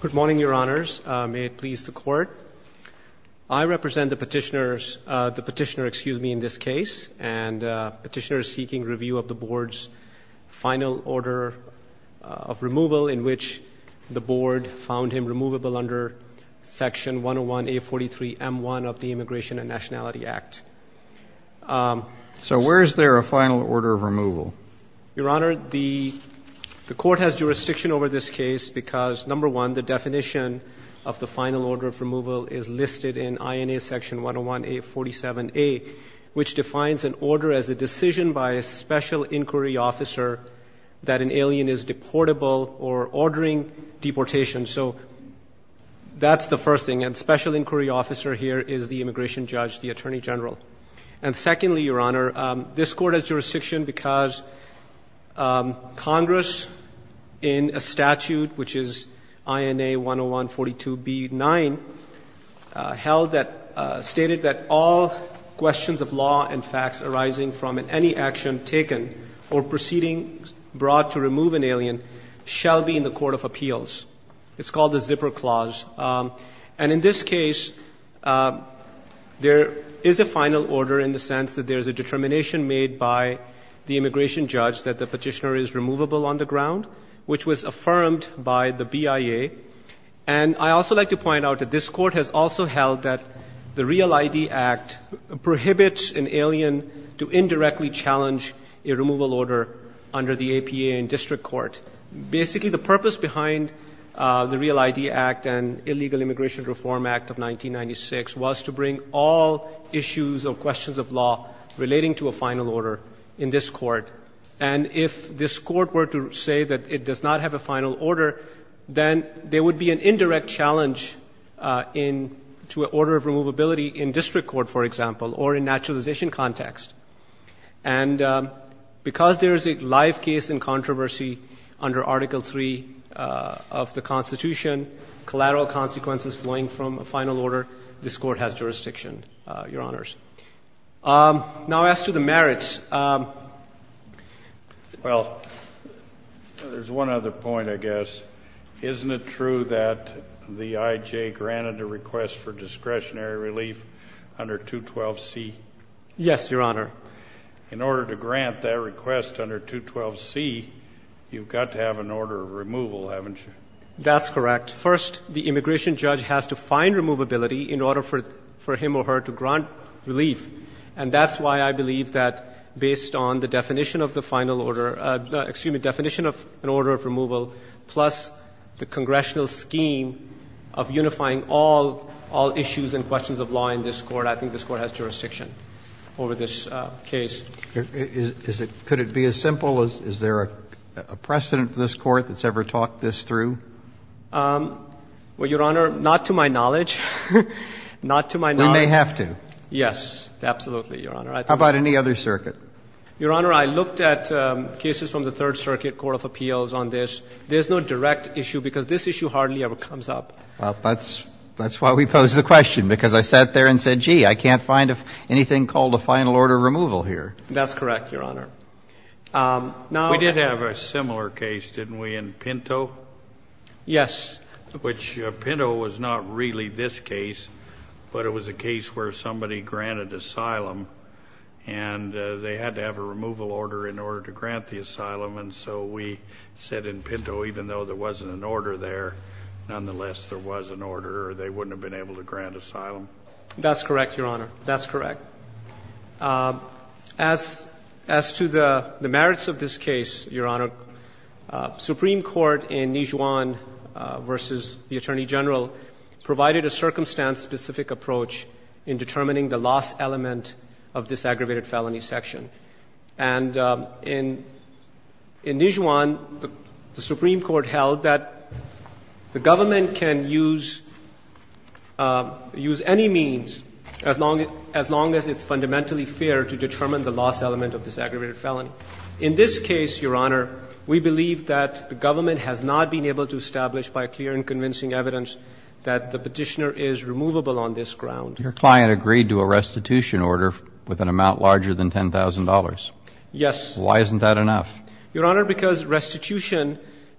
Good morning, Your Honors. May it please the Court. I represent the Petitioner, excuse me, in this case, and Petitioner is seeking review of the Board's final order of removal in which the Board found him removable under Section 101A43M1 of the Immigration and Nationality Act. So where is there a final order of removal? Your Honor, the Court has jurisdiction over this case because, number one, the definition of the final order of removal is listed in INA Section 101A47A, which defines an order as a decision by a special inquiry officer that an alien is deportable or ordering deportation. So that's the first thing. And special inquiry officer here is the immigration judge, the attorney general. And secondly, Your Honor, this Court has jurisdiction because Congress in a statute, which is INA 10142B9, held that – stated that all questions of law and facts arising from any action taken or proceedings brought to remove an alien shall be in the court of appeals. It's called the zipper clause. And in this case, there is a final order in the sense that there is a determination made by the immigration judge that the Petitioner is removable on the ground, which was affirmed by the BIA. And I also like to point out that this Court has also held that the REAL-ID Act prohibits an alien to indirectly challenge a removal order under the APA in district court. Basically, the purpose behind the REAL-ID Act and Illegal Immigration Reform Act of 1996 was to bring all issues or questions of law relating to a final order in this Court. And if this Court were to say that it does not have a final order, then there would be an indirect challenge in – to an order of removability in district court, for example, or in naturalization context. And because there is a live case in controversy under Article III of the Constitution, collateral consequences flowing from a final order, this Court has jurisdiction, Your Honors. Now, as to the merits – Well, there's one other point, I guess. Isn't it true that the IJ granted a request for discretionary relief under 212C? Yes, Your Honor. In order to grant that request under 212C, you've got to have an order of removal, haven't you? That's correct. First, the immigration judge has to find removability in order for relief. And that's why I believe that based on the definition of the final order – excuse me – definition of an order of removal plus the congressional scheme of unifying all issues and questions of law in this Court, I think this Court has jurisdiction over this case. Is it – could it be as simple? Is there a precedent for this Court that's ever talked this through? Well, Your Honor, not to my knowledge. Not to my knowledge. We may have to. Yes, absolutely, Your Honor. How about any other circuit? Your Honor, I looked at cases from the Third Circuit Court of Appeals on this. There's no direct issue because this issue hardly ever comes up. That's why we posed the question, because I sat there and said, gee, I can't find anything called a final order of removal here. That's correct, Your Honor. We did have a similar case, didn't we, in Pinto? Yes. Which Pinto was not really this case, but it was a case where somebody granted asylum, and they had to have a removal order in order to grant the asylum, and so we said in Pinto, even though there wasn't an order there, nonetheless, there was an order or they wouldn't have been able to grant asylum. That's correct, Your Honor. That's correct. As to the merits of this case, Your Honor, Supreme Court in Nijuan v. the Attorney General provided a circumstance-specific approach in determining the loss element of this aggravated felony section. And in Nijuan, the Supreme Court held that the government can use any means as long as it's fundamentally fair to determine the loss element of this aggravated felony. In this case, Your Honor, we believe that the government has not been able to establish by clear and convincing evidence that the Petitioner is removable on this ground. Your client agreed to a restitution order with an amount larger than $10,000. Yes. Why isn't that enough? Your Honor, because restitution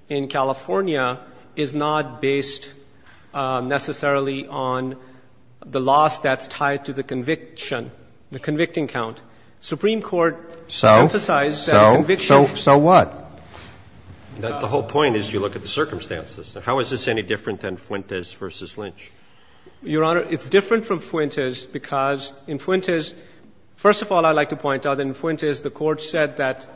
in California is not based necessarily on the loss that's tied to the conviction, the convicting count. Supreme Court emphasized that conviction. So what? The whole point is you look at the circumstances. How is this any different than Fuentes v. Lynch? Your Honor, it's different from Fuentes because in Fuentes, first of all, I'd like to point out that in Fuentes the Court said that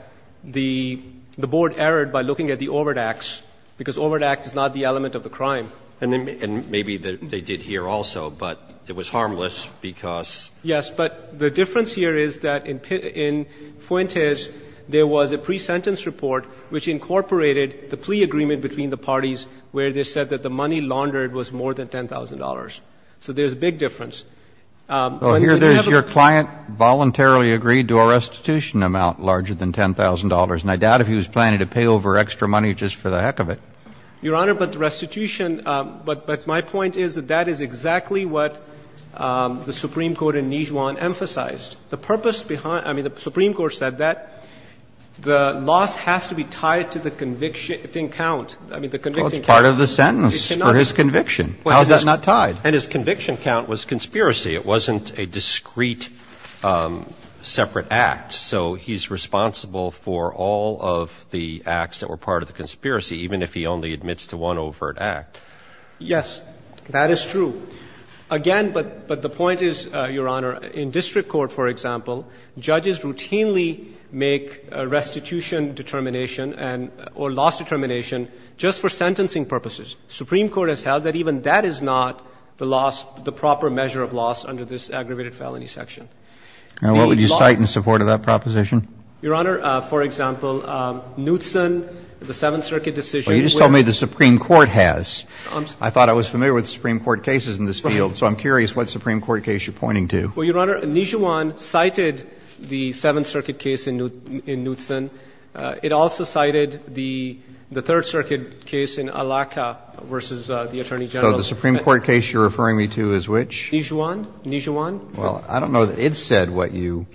the Board erred by looking at the Overdax, because Overdax is not the element of the crime. And maybe they did here also, but it was harmless because. Yes. But the difference here is that in Fuentes there was a pre-sentence report which incorporated the plea agreement between the parties where they said that the money laundered was more than $10,000. So there's a big difference. Here there's your client voluntarily agreed to a restitution amount larger than $10,000. And I doubt if he was planning to pay over extra money just for the heck of it. Your Honor, but the restitution, but my point is that that is exactly what the Supreme Court in Nijuan emphasized. The purpose behind the Supreme Court said that the loss has to be tied to the convicting I mean, the convicting count. Well, it's part of the sentence for his conviction. How is that not tied? And his conviction count was conspiracy. It wasn't a discrete separate act. So he's responsible for all of the acts that were part of the conspiracy, even if he only admits to one overt act. Yes, that is true. Again, but the point is, Your Honor, in district court, for example, judges routinely make restitution determination or loss determination just for sentencing purposes. Supreme Court has held that even that is not the loss, the proper measure of loss under this aggravated felony section. Now, what would you cite in support of that proposition? Your Honor, for example, Knutson, the Seventh Circuit decision. You just told me the Supreme Court has. I thought I was familiar with the Supreme Court cases in this field. So I'm curious what Supreme Court case you're pointing to. Well, Your Honor, Nijuan cited the Seventh Circuit case in Knutson. It also cited the Third Circuit case in Alaca versus the Attorney General. So the Supreme Court case you're referring me to is which? Nijuan. Nijuan. Well, I don't know. It said what you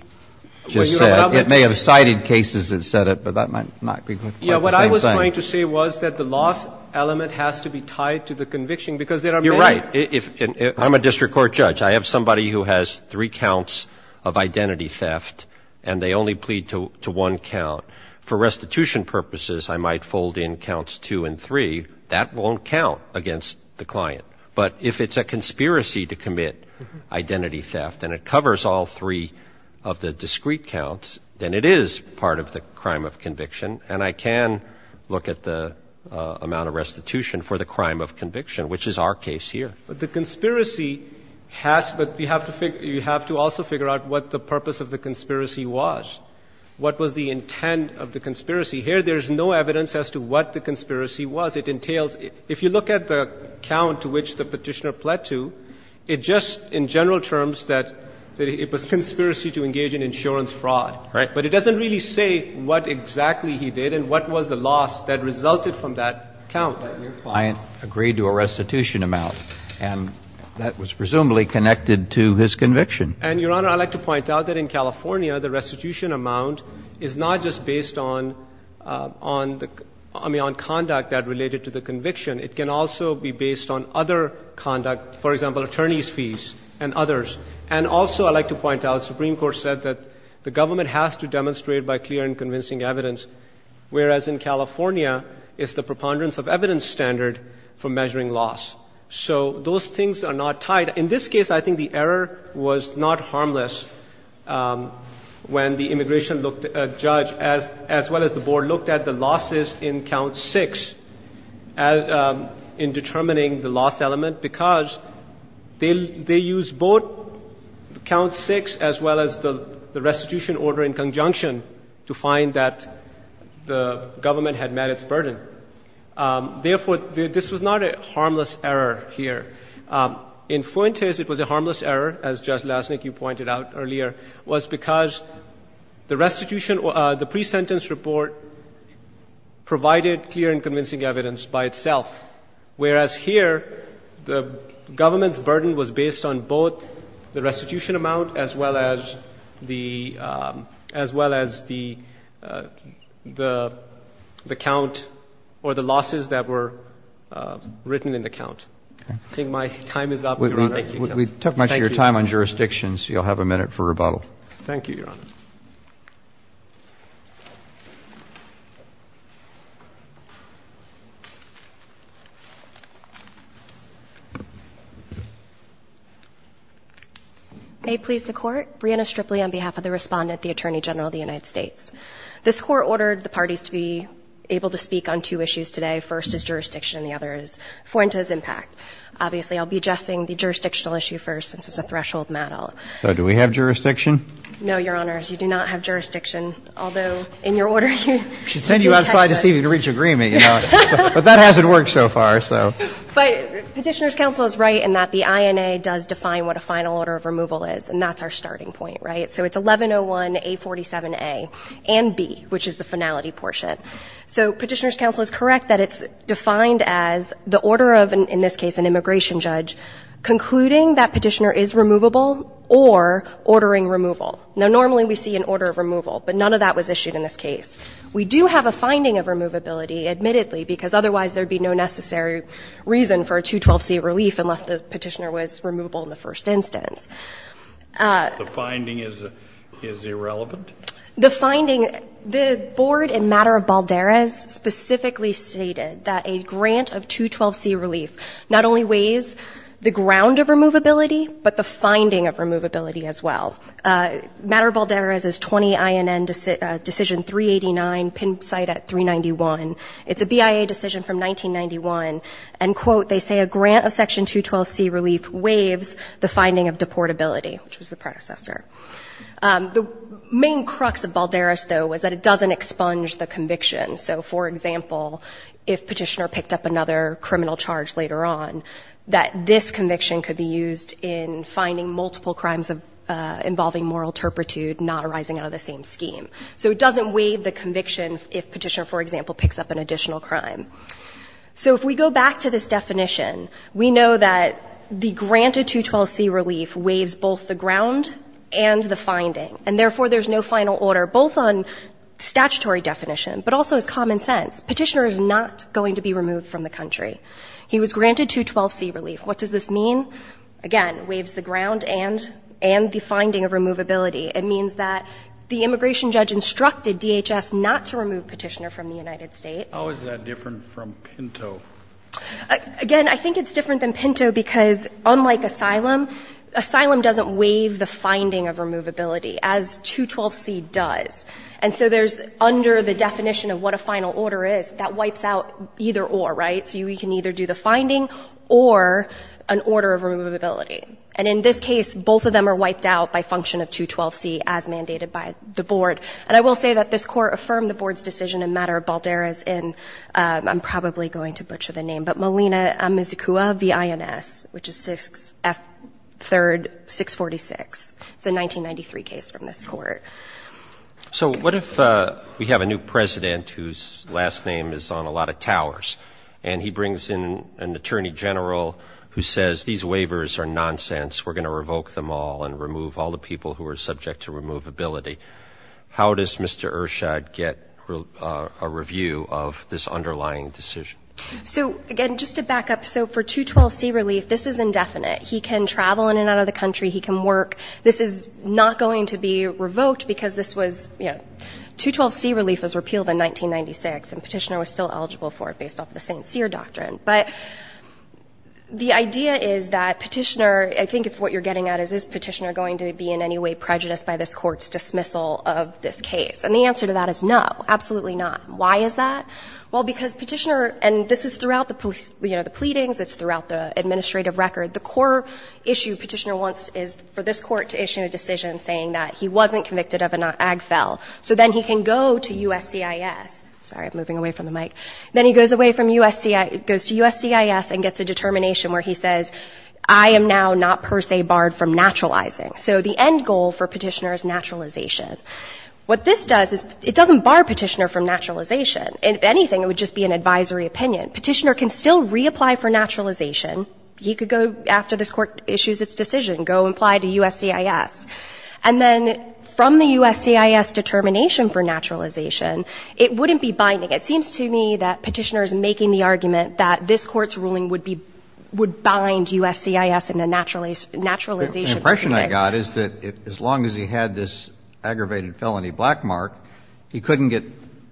just said. It may have cited cases that said it, but that might not be quite the same thing. Yeah. What I was trying to say was that the loss element has to be tied to the conviction, because there are many. You're right. I'm a district court judge. I have somebody who has three counts of identity theft, and they only plead to one count. For restitution purposes, I might fold in counts two and three. That won't count against the client. But if it's a conspiracy to commit identity theft and it covers all three of the discrete counts, then it is part of the crime of conviction. And I can look at the amount of restitution for the crime of conviction, which is our case here. But the conspiracy has to figure out what the purpose of the conspiracy was. What was the intent of the conspiracy? Here, there is no evidence as to what the conspiracy was. It entails, if you look at the count to which the Petitioner pled to, it just in general terms that it was conspiracy to engage in insurance fraud. Right. But it doesn't really say what exactly he did and what was the loss that resulted from that count. But your client agreed to a restitution amount, and that was presumably connected to his conviction. And, Your Honor, I'd like to point out that in California, the restitution amount is not just based on conduct that related to the conviction. It can also be based on other conduct, for example, attorney's fees and others. And also I'd like to point out, the Supreme Court said that the government has to demonstrate by clear and convincing evidence, whereas in California, it's the preponderance of evidence standard for measuring loss. So those things are not tied. In this case, I think the error was not harmless when the immigration judge, as well as the board, looked at the losses in count six in determining the loss element, because they used both count six as well as the restitution order in conjunction to find that the government had met its burden. Therefore, this was not a harmless error here. In Fuentes, it was a harmless error, as Judge Lasnik, you pointed out earlier, was because the restitution, the pre-sentence report provided clear and convincing evidence by itself, whereas here, the government's burden was based on both the restitution amount as well as the, as well as the, the count or the losses that were written in the count. I think my time is up, Your Honor. Thank you. Thank you. Thank you very much for your time on jurisdictions. You'll have a minute for rebuttal. Thank you, Your Honor. May it please the Court. Brianna Stripley on behalf of the Respondent, the Attorney General of the United States. This Court ordered the parties to be able to speak on two issues today. First is jurisdiction. The other is Fuentes' impact. I'm going to start with the jurisdiction. Obviously, I'll be addressing the jurisdictional issue first, since it's a threshold matter. So do we have jurisdiction? No, Your Honor. You do not have jurisdiction, although in your order, you do have jurisdiction. We should send you outside to see if you can reach agreement, you know. But that hasn't worked so far, so. But Petitioner's counsel is right in that the INA does define what a final order of removal is, and that's our starting point, right? So it's 1101A47A and B, which is the finality portion. So Petitioner's counsel is correct that it's defined as the order of, in this case, an immigration judge concluding that Petitioner is removable or ordering removal. Now, normally we see an order of removal, but none of that was issued in this case. We do have a finding of removability, admittedly, because otherwise there would be no necessary reason for a 212C relief unless the Petitioner was removable in the first instance. The finding is irrelevant? The finding, the board in Matter of Balderas specifically stated that a grant of 212C relief not only weighs the ground of removability, but the finding of removability as well. Matter of Balderas is 20INN decision 389, pin site at 391. It's a BIA decision from 1991, and, quote, they say a grant of section 212C relief weighs the finding of deportability, which was the predecessor. The main crux of Balderas, though, was that it doesn't expunge the conviction. So, for example, if Petitioner picked up another criminal charge later on, that this conviction could be used in finding multiple crimes involving moral turpitude not arising out of the same scheme. So it doesn't waive the conviction if Petitioner, for example, picks up an additional crime. So if we go back to this definition, we know that the grant of 212C relief weighs both the ground and the finding. And therefore, there's no final order, both on statutory definition, but also as common sense. Petitioner is not going to be removed from the country. He was granted 212C relief. What does this mean? Again, it weighs the ground and the finding of removability. It means that the immigration judge instructed DHS not to remove Petitioner from the United States. How is that different from Pinto? Again, I think it's different than Pinto because, unlike asylum, asylum doesn't waive the finding of removability, as 212C does. And so there's, under the definition of what a final order is, that wipes out either or, right? So we can either do the finding or an order of removability. And in this case, both of them are wiped out by function of 212C as mandated by the Board. And I will say that this Court affirmed the Board's decision in matter of Baldera's in, I'm probably going to butcher the name, but Molina-Amizukua v. INS, which is 6F 3rd 646. It's a 1993 case from this Court. So what if we have a new president whose last name is on a lot of towers, and he brings in an attorney general who says, these waivers are nonsense, we're going to revoke them all and remove all the people who are subject to removability? How does Mr. Ershad get a review of this underlying decision? So, again, just to back up, so for 212C relief, this is indefinite. He can travel in and out of the country. He can work. This is not going to be revoked because this was, you know, 212C relief was repealed in 1996, and Petitioner was still eligible for it based off the St. Cyr doctrine. But the idea is that Petitioner, I think what you're getting at is, is Petitioner going to be in any way prejudiced by this Court's dismissal of this case? And the answer to that is no, absolutely not. Why is that? Well, because Petitioner, and this is throughout the police, you know, the pleadings, it's throughout the administrative record, the core issue Petitioner wants is for this Court to issue a decision saying that he wasn't convicted of an ag fel. So then he can go to USCIS. Sorry, I'm moving away from the mic. Then he goes away from USCIS, goes to USCIS and gets a determination where he says, I am now not per se barred from naturalizing. So the end goal for Petitioner is naturalization. What this does is it doesn't bar Petitioner from naturalization. If anything, it would just be an advisory opinion. Petitioner can still reapply for naturalization. He could go after this Court issues its decision, go apply to USCIS. And then from the USCIS determination for naturalization, it wouldn't be binding. It seems to me that Petitioner is making the argument that this Court's ruling would be – would bind USCIS in a naturalization proceeding. The impression I got is that as long as he had this aggravated felony black mark, he couldn't get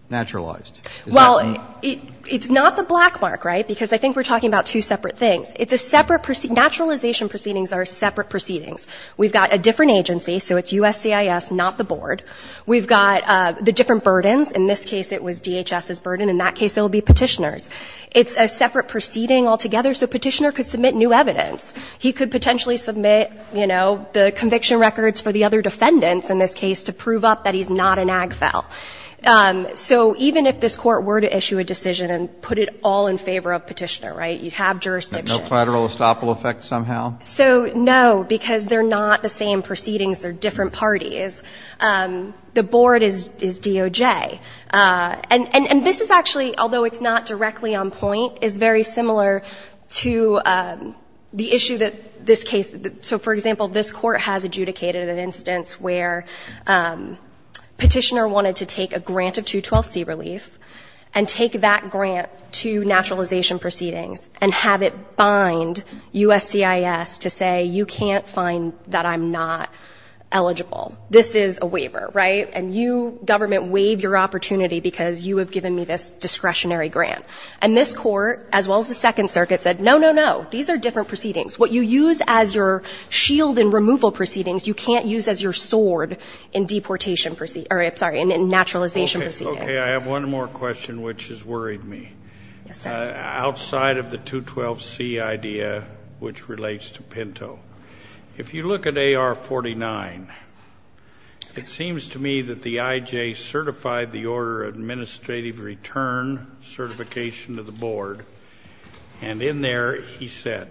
naturalized. Is that wrong? Well, it's not the black mark, right? Because I think we're talking about two separate things. It's a separate – naturalization proceedings are separate proceedings. We've got a different agency, so it's USCIS, not the Board. We've got the different burdens. In this case, it was DHS's burden. In that case, it will be Petitioner's. It's a separate proceeding altogether, so Petitioner could submit new evidence. He could potentially submit, you know, the conviction records for the other defendants in this case to prove up that he's not an ag fel. So even if this Court were to issue a decision and put it all in favor of Petitioner, right, you have jurisdiction. No collateral estoppel effect somehow? So, no, because they're not the same proceedings. They're different parties. The Board is DOJ. And this is actually, although it's not directly on point, is very similar to the issue that this case – so, for example, this Court has adjudicated an instance where Petitioner wanted to take a grant of 212C relief and take that grant to naturalization proceedings and have it bind USCIS to say, you can't find that I'm not eligible. This is a waiver, right? And you, government, waive your opportunity because you have given me this discretionary grant. And this Court, as well as the Second Circuit, said, no, no, no. These are different proceedings. What you use as your shield in removal proceedings, you can't use as your sword in deportation – or, I'm sorry, in naturalization proceedings. Okay. I have one more question, which has worried me. Yes, sir. Outside of the 212C idea, which relates to Pinto, if you look at AR-49, it seems to me that the IJ certified the order administrative return certification to the Board. And in there, he said,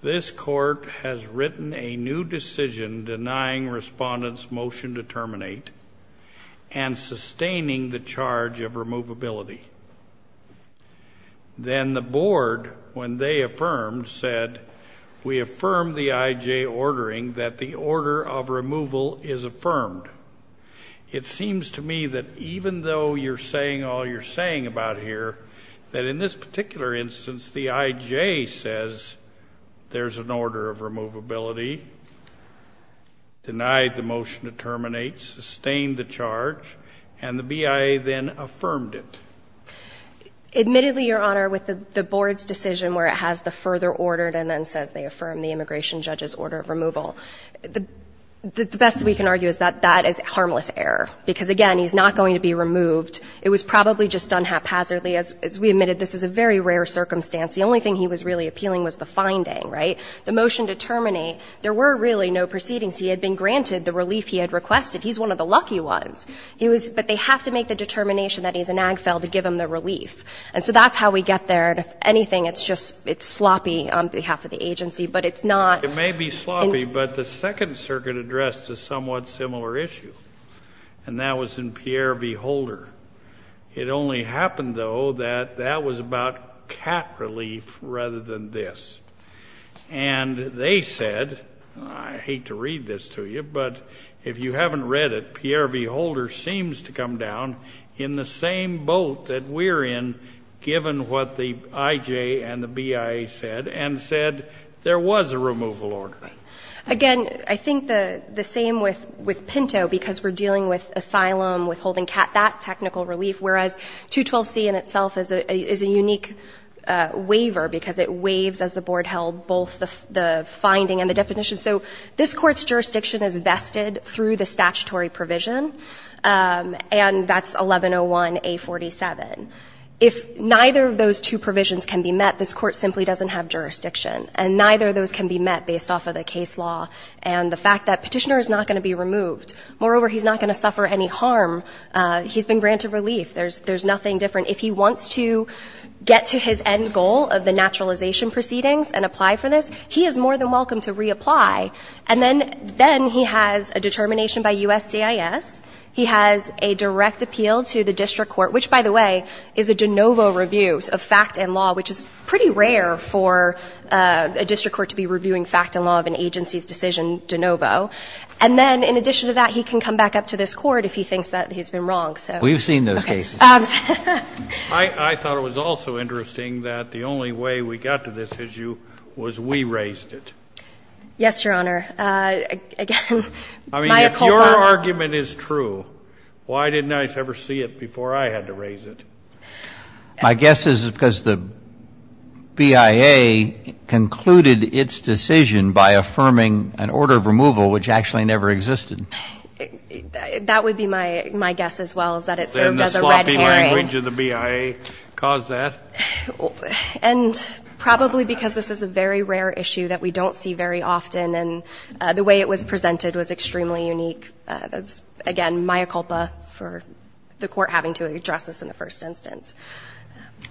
this Court has written a new decision denying respondents' motion to terminate and sustaining the charge of removability. Then the Board, when they affirmed, said, we affirm the IJ ordering that the order of removal is affirmed. It seems to me that even though you're saying all you're saying about here, that in this particular instance, the IJ says there's an order of removability, denied the motion to terminate, sustained the charge, and the BIA then affirmed it. Admittedly, Your Honor, with the Board's decision where it has the further ordered and then says they affirm the immigration judge's order of removal, the best we can argue is that that is harmless error. Because, again, he's not going to be removed. It was probably just done haphazardly. As we admitted, this is a very rare circumstance. The only thing he was really appealing was the finding, right? The motion to terminate, there were really no proceedings. He had been granted the relief he had requested. He's one of the lucky ones. He was – but they have to make the determination that he's in AGFEL to give him the relief. And so that's how we get there. And if anything, it's just – it's sloppy on behalf of the agency, but it's not. It may be sloppy, but the Second Circuit addressed a somewhat similar issue, and that was in Pierre v. Holder. It only happened, though, that that was about cat relief rather than this. And they said – I hate to read this to you, but if you haven't read it, Pierre v. Holder seems to come down in the same boat that we're in, given what the IJ and the BIA said, and said there was a removal order. Again, I think the same with Pinto, because we're dealing with asylum, withholding cat, that technical relief, whereas 212C in itself is a unique waiver, because it waives, as the Board held, both the finding and the definition. So this Court's jurisdiction is vested through the statutory provision, and that's 1101A47. If neither of those two provisions can be met, this Court simply doesn't have And the fact that Petitioner is not going to be removed. Moreover, he's not going to suffer any harm. He's been granted relief. There's nothing different. If he wants to get to his end goal of the naturalization proceedings and apply for this, he is more than welcome to reapply. And then he has a determination by USCIS. He has a direct appeal to the district court, which, by the way, is a de novo review of fact and law, which is pretty rare for a district court to be reviewing fact and law of an agency's decision de novo. And then, in addition to that, he can come back up to this Court if he thinks that he's been wrong. So. We've seen those cases. Okay. I thought it was also interesting that the only way we got to this issue was we raised it. Yes, Your Honor. Again. I mean, if your argument is true, why didn't I ever see it before I had to raise it? My guess is because the BIA concluded its decision by affirming an order of removal which actually never existed. That would be my guess as well, is that it served as a red herring. Then the sloppy language of the BIA caused that? And probably because this is a very rare issue that we don't see very often, and the way it was presented was extremely unique. That's, again, mya culpa for the Court having to address this in the first instance.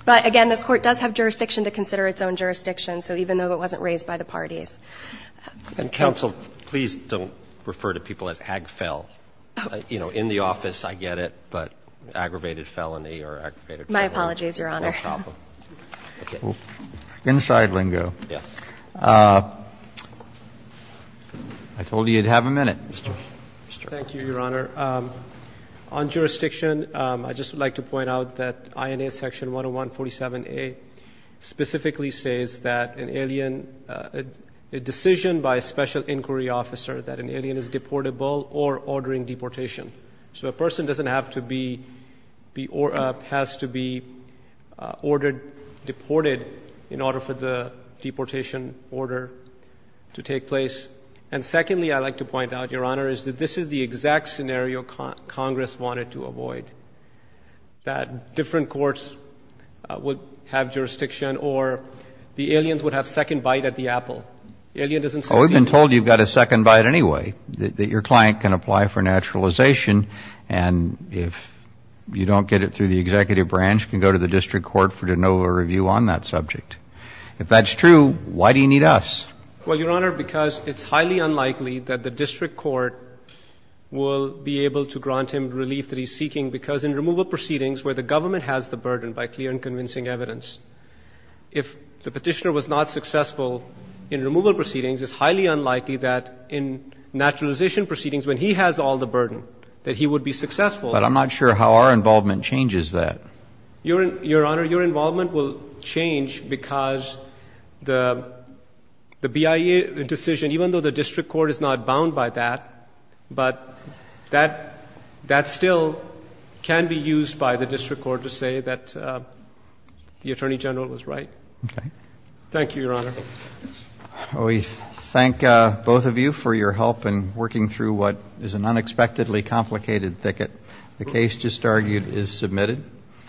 But, again, this Court does have jurisdiction to consider its own jurisdiction, so even though it wasn't raised by the parties. Counsel, please don't refer to people as ag fel. You know, in the office, I get it, but aggravated felony or aggravated felony. My apologies, Your Honor. No problem. Inside lingo. Yes. I told you you'd have a minute. Thank you, Your Honor. On jurisdiction, I'd just like to point out that INA section 101-47A specifically says that an alien, a decision by a special inquiry officer that an alien is deportable or ordering deportation. So a person doesn't have to be, has to be ordered, deported in order for the deportation order to take place. And, secondly, I'd like to point out, Your Honor, is that this is the exact scenario Congress wanted to avoid, that different courts would have jurisdiction or the aliens would have second bite at the apple. Alien doesn't succeed. Well, we've been told you've got a second bite anyway, that your client can apply for naturalization, and if you don't get it through the executive branch, can go to the district court for no review on that subject. If that's true, why do you need us? Well, Your Honor, because it's highly unlikely that the district court will be able to grant him relief that he's seeking, because in removal proceedings where the government has the burden by clear and convincing evidence, if the petitioner was not successful in removal proceedings, it's highly unlikely that in naturalization proceedings, when he has all the burden, that he would be successful. But I'm not sure how our involvement changes that. Your Honor, your involvement will change because the BIA decision, even though the district court is not bound by that, but that still can be used by the district court to say that the Attorney General was right. Okay. Thank you, Your Honor. We thank both of you for your help in working through what is an unexpectedly complicated thicket. The case just argued is submitted. Thank you.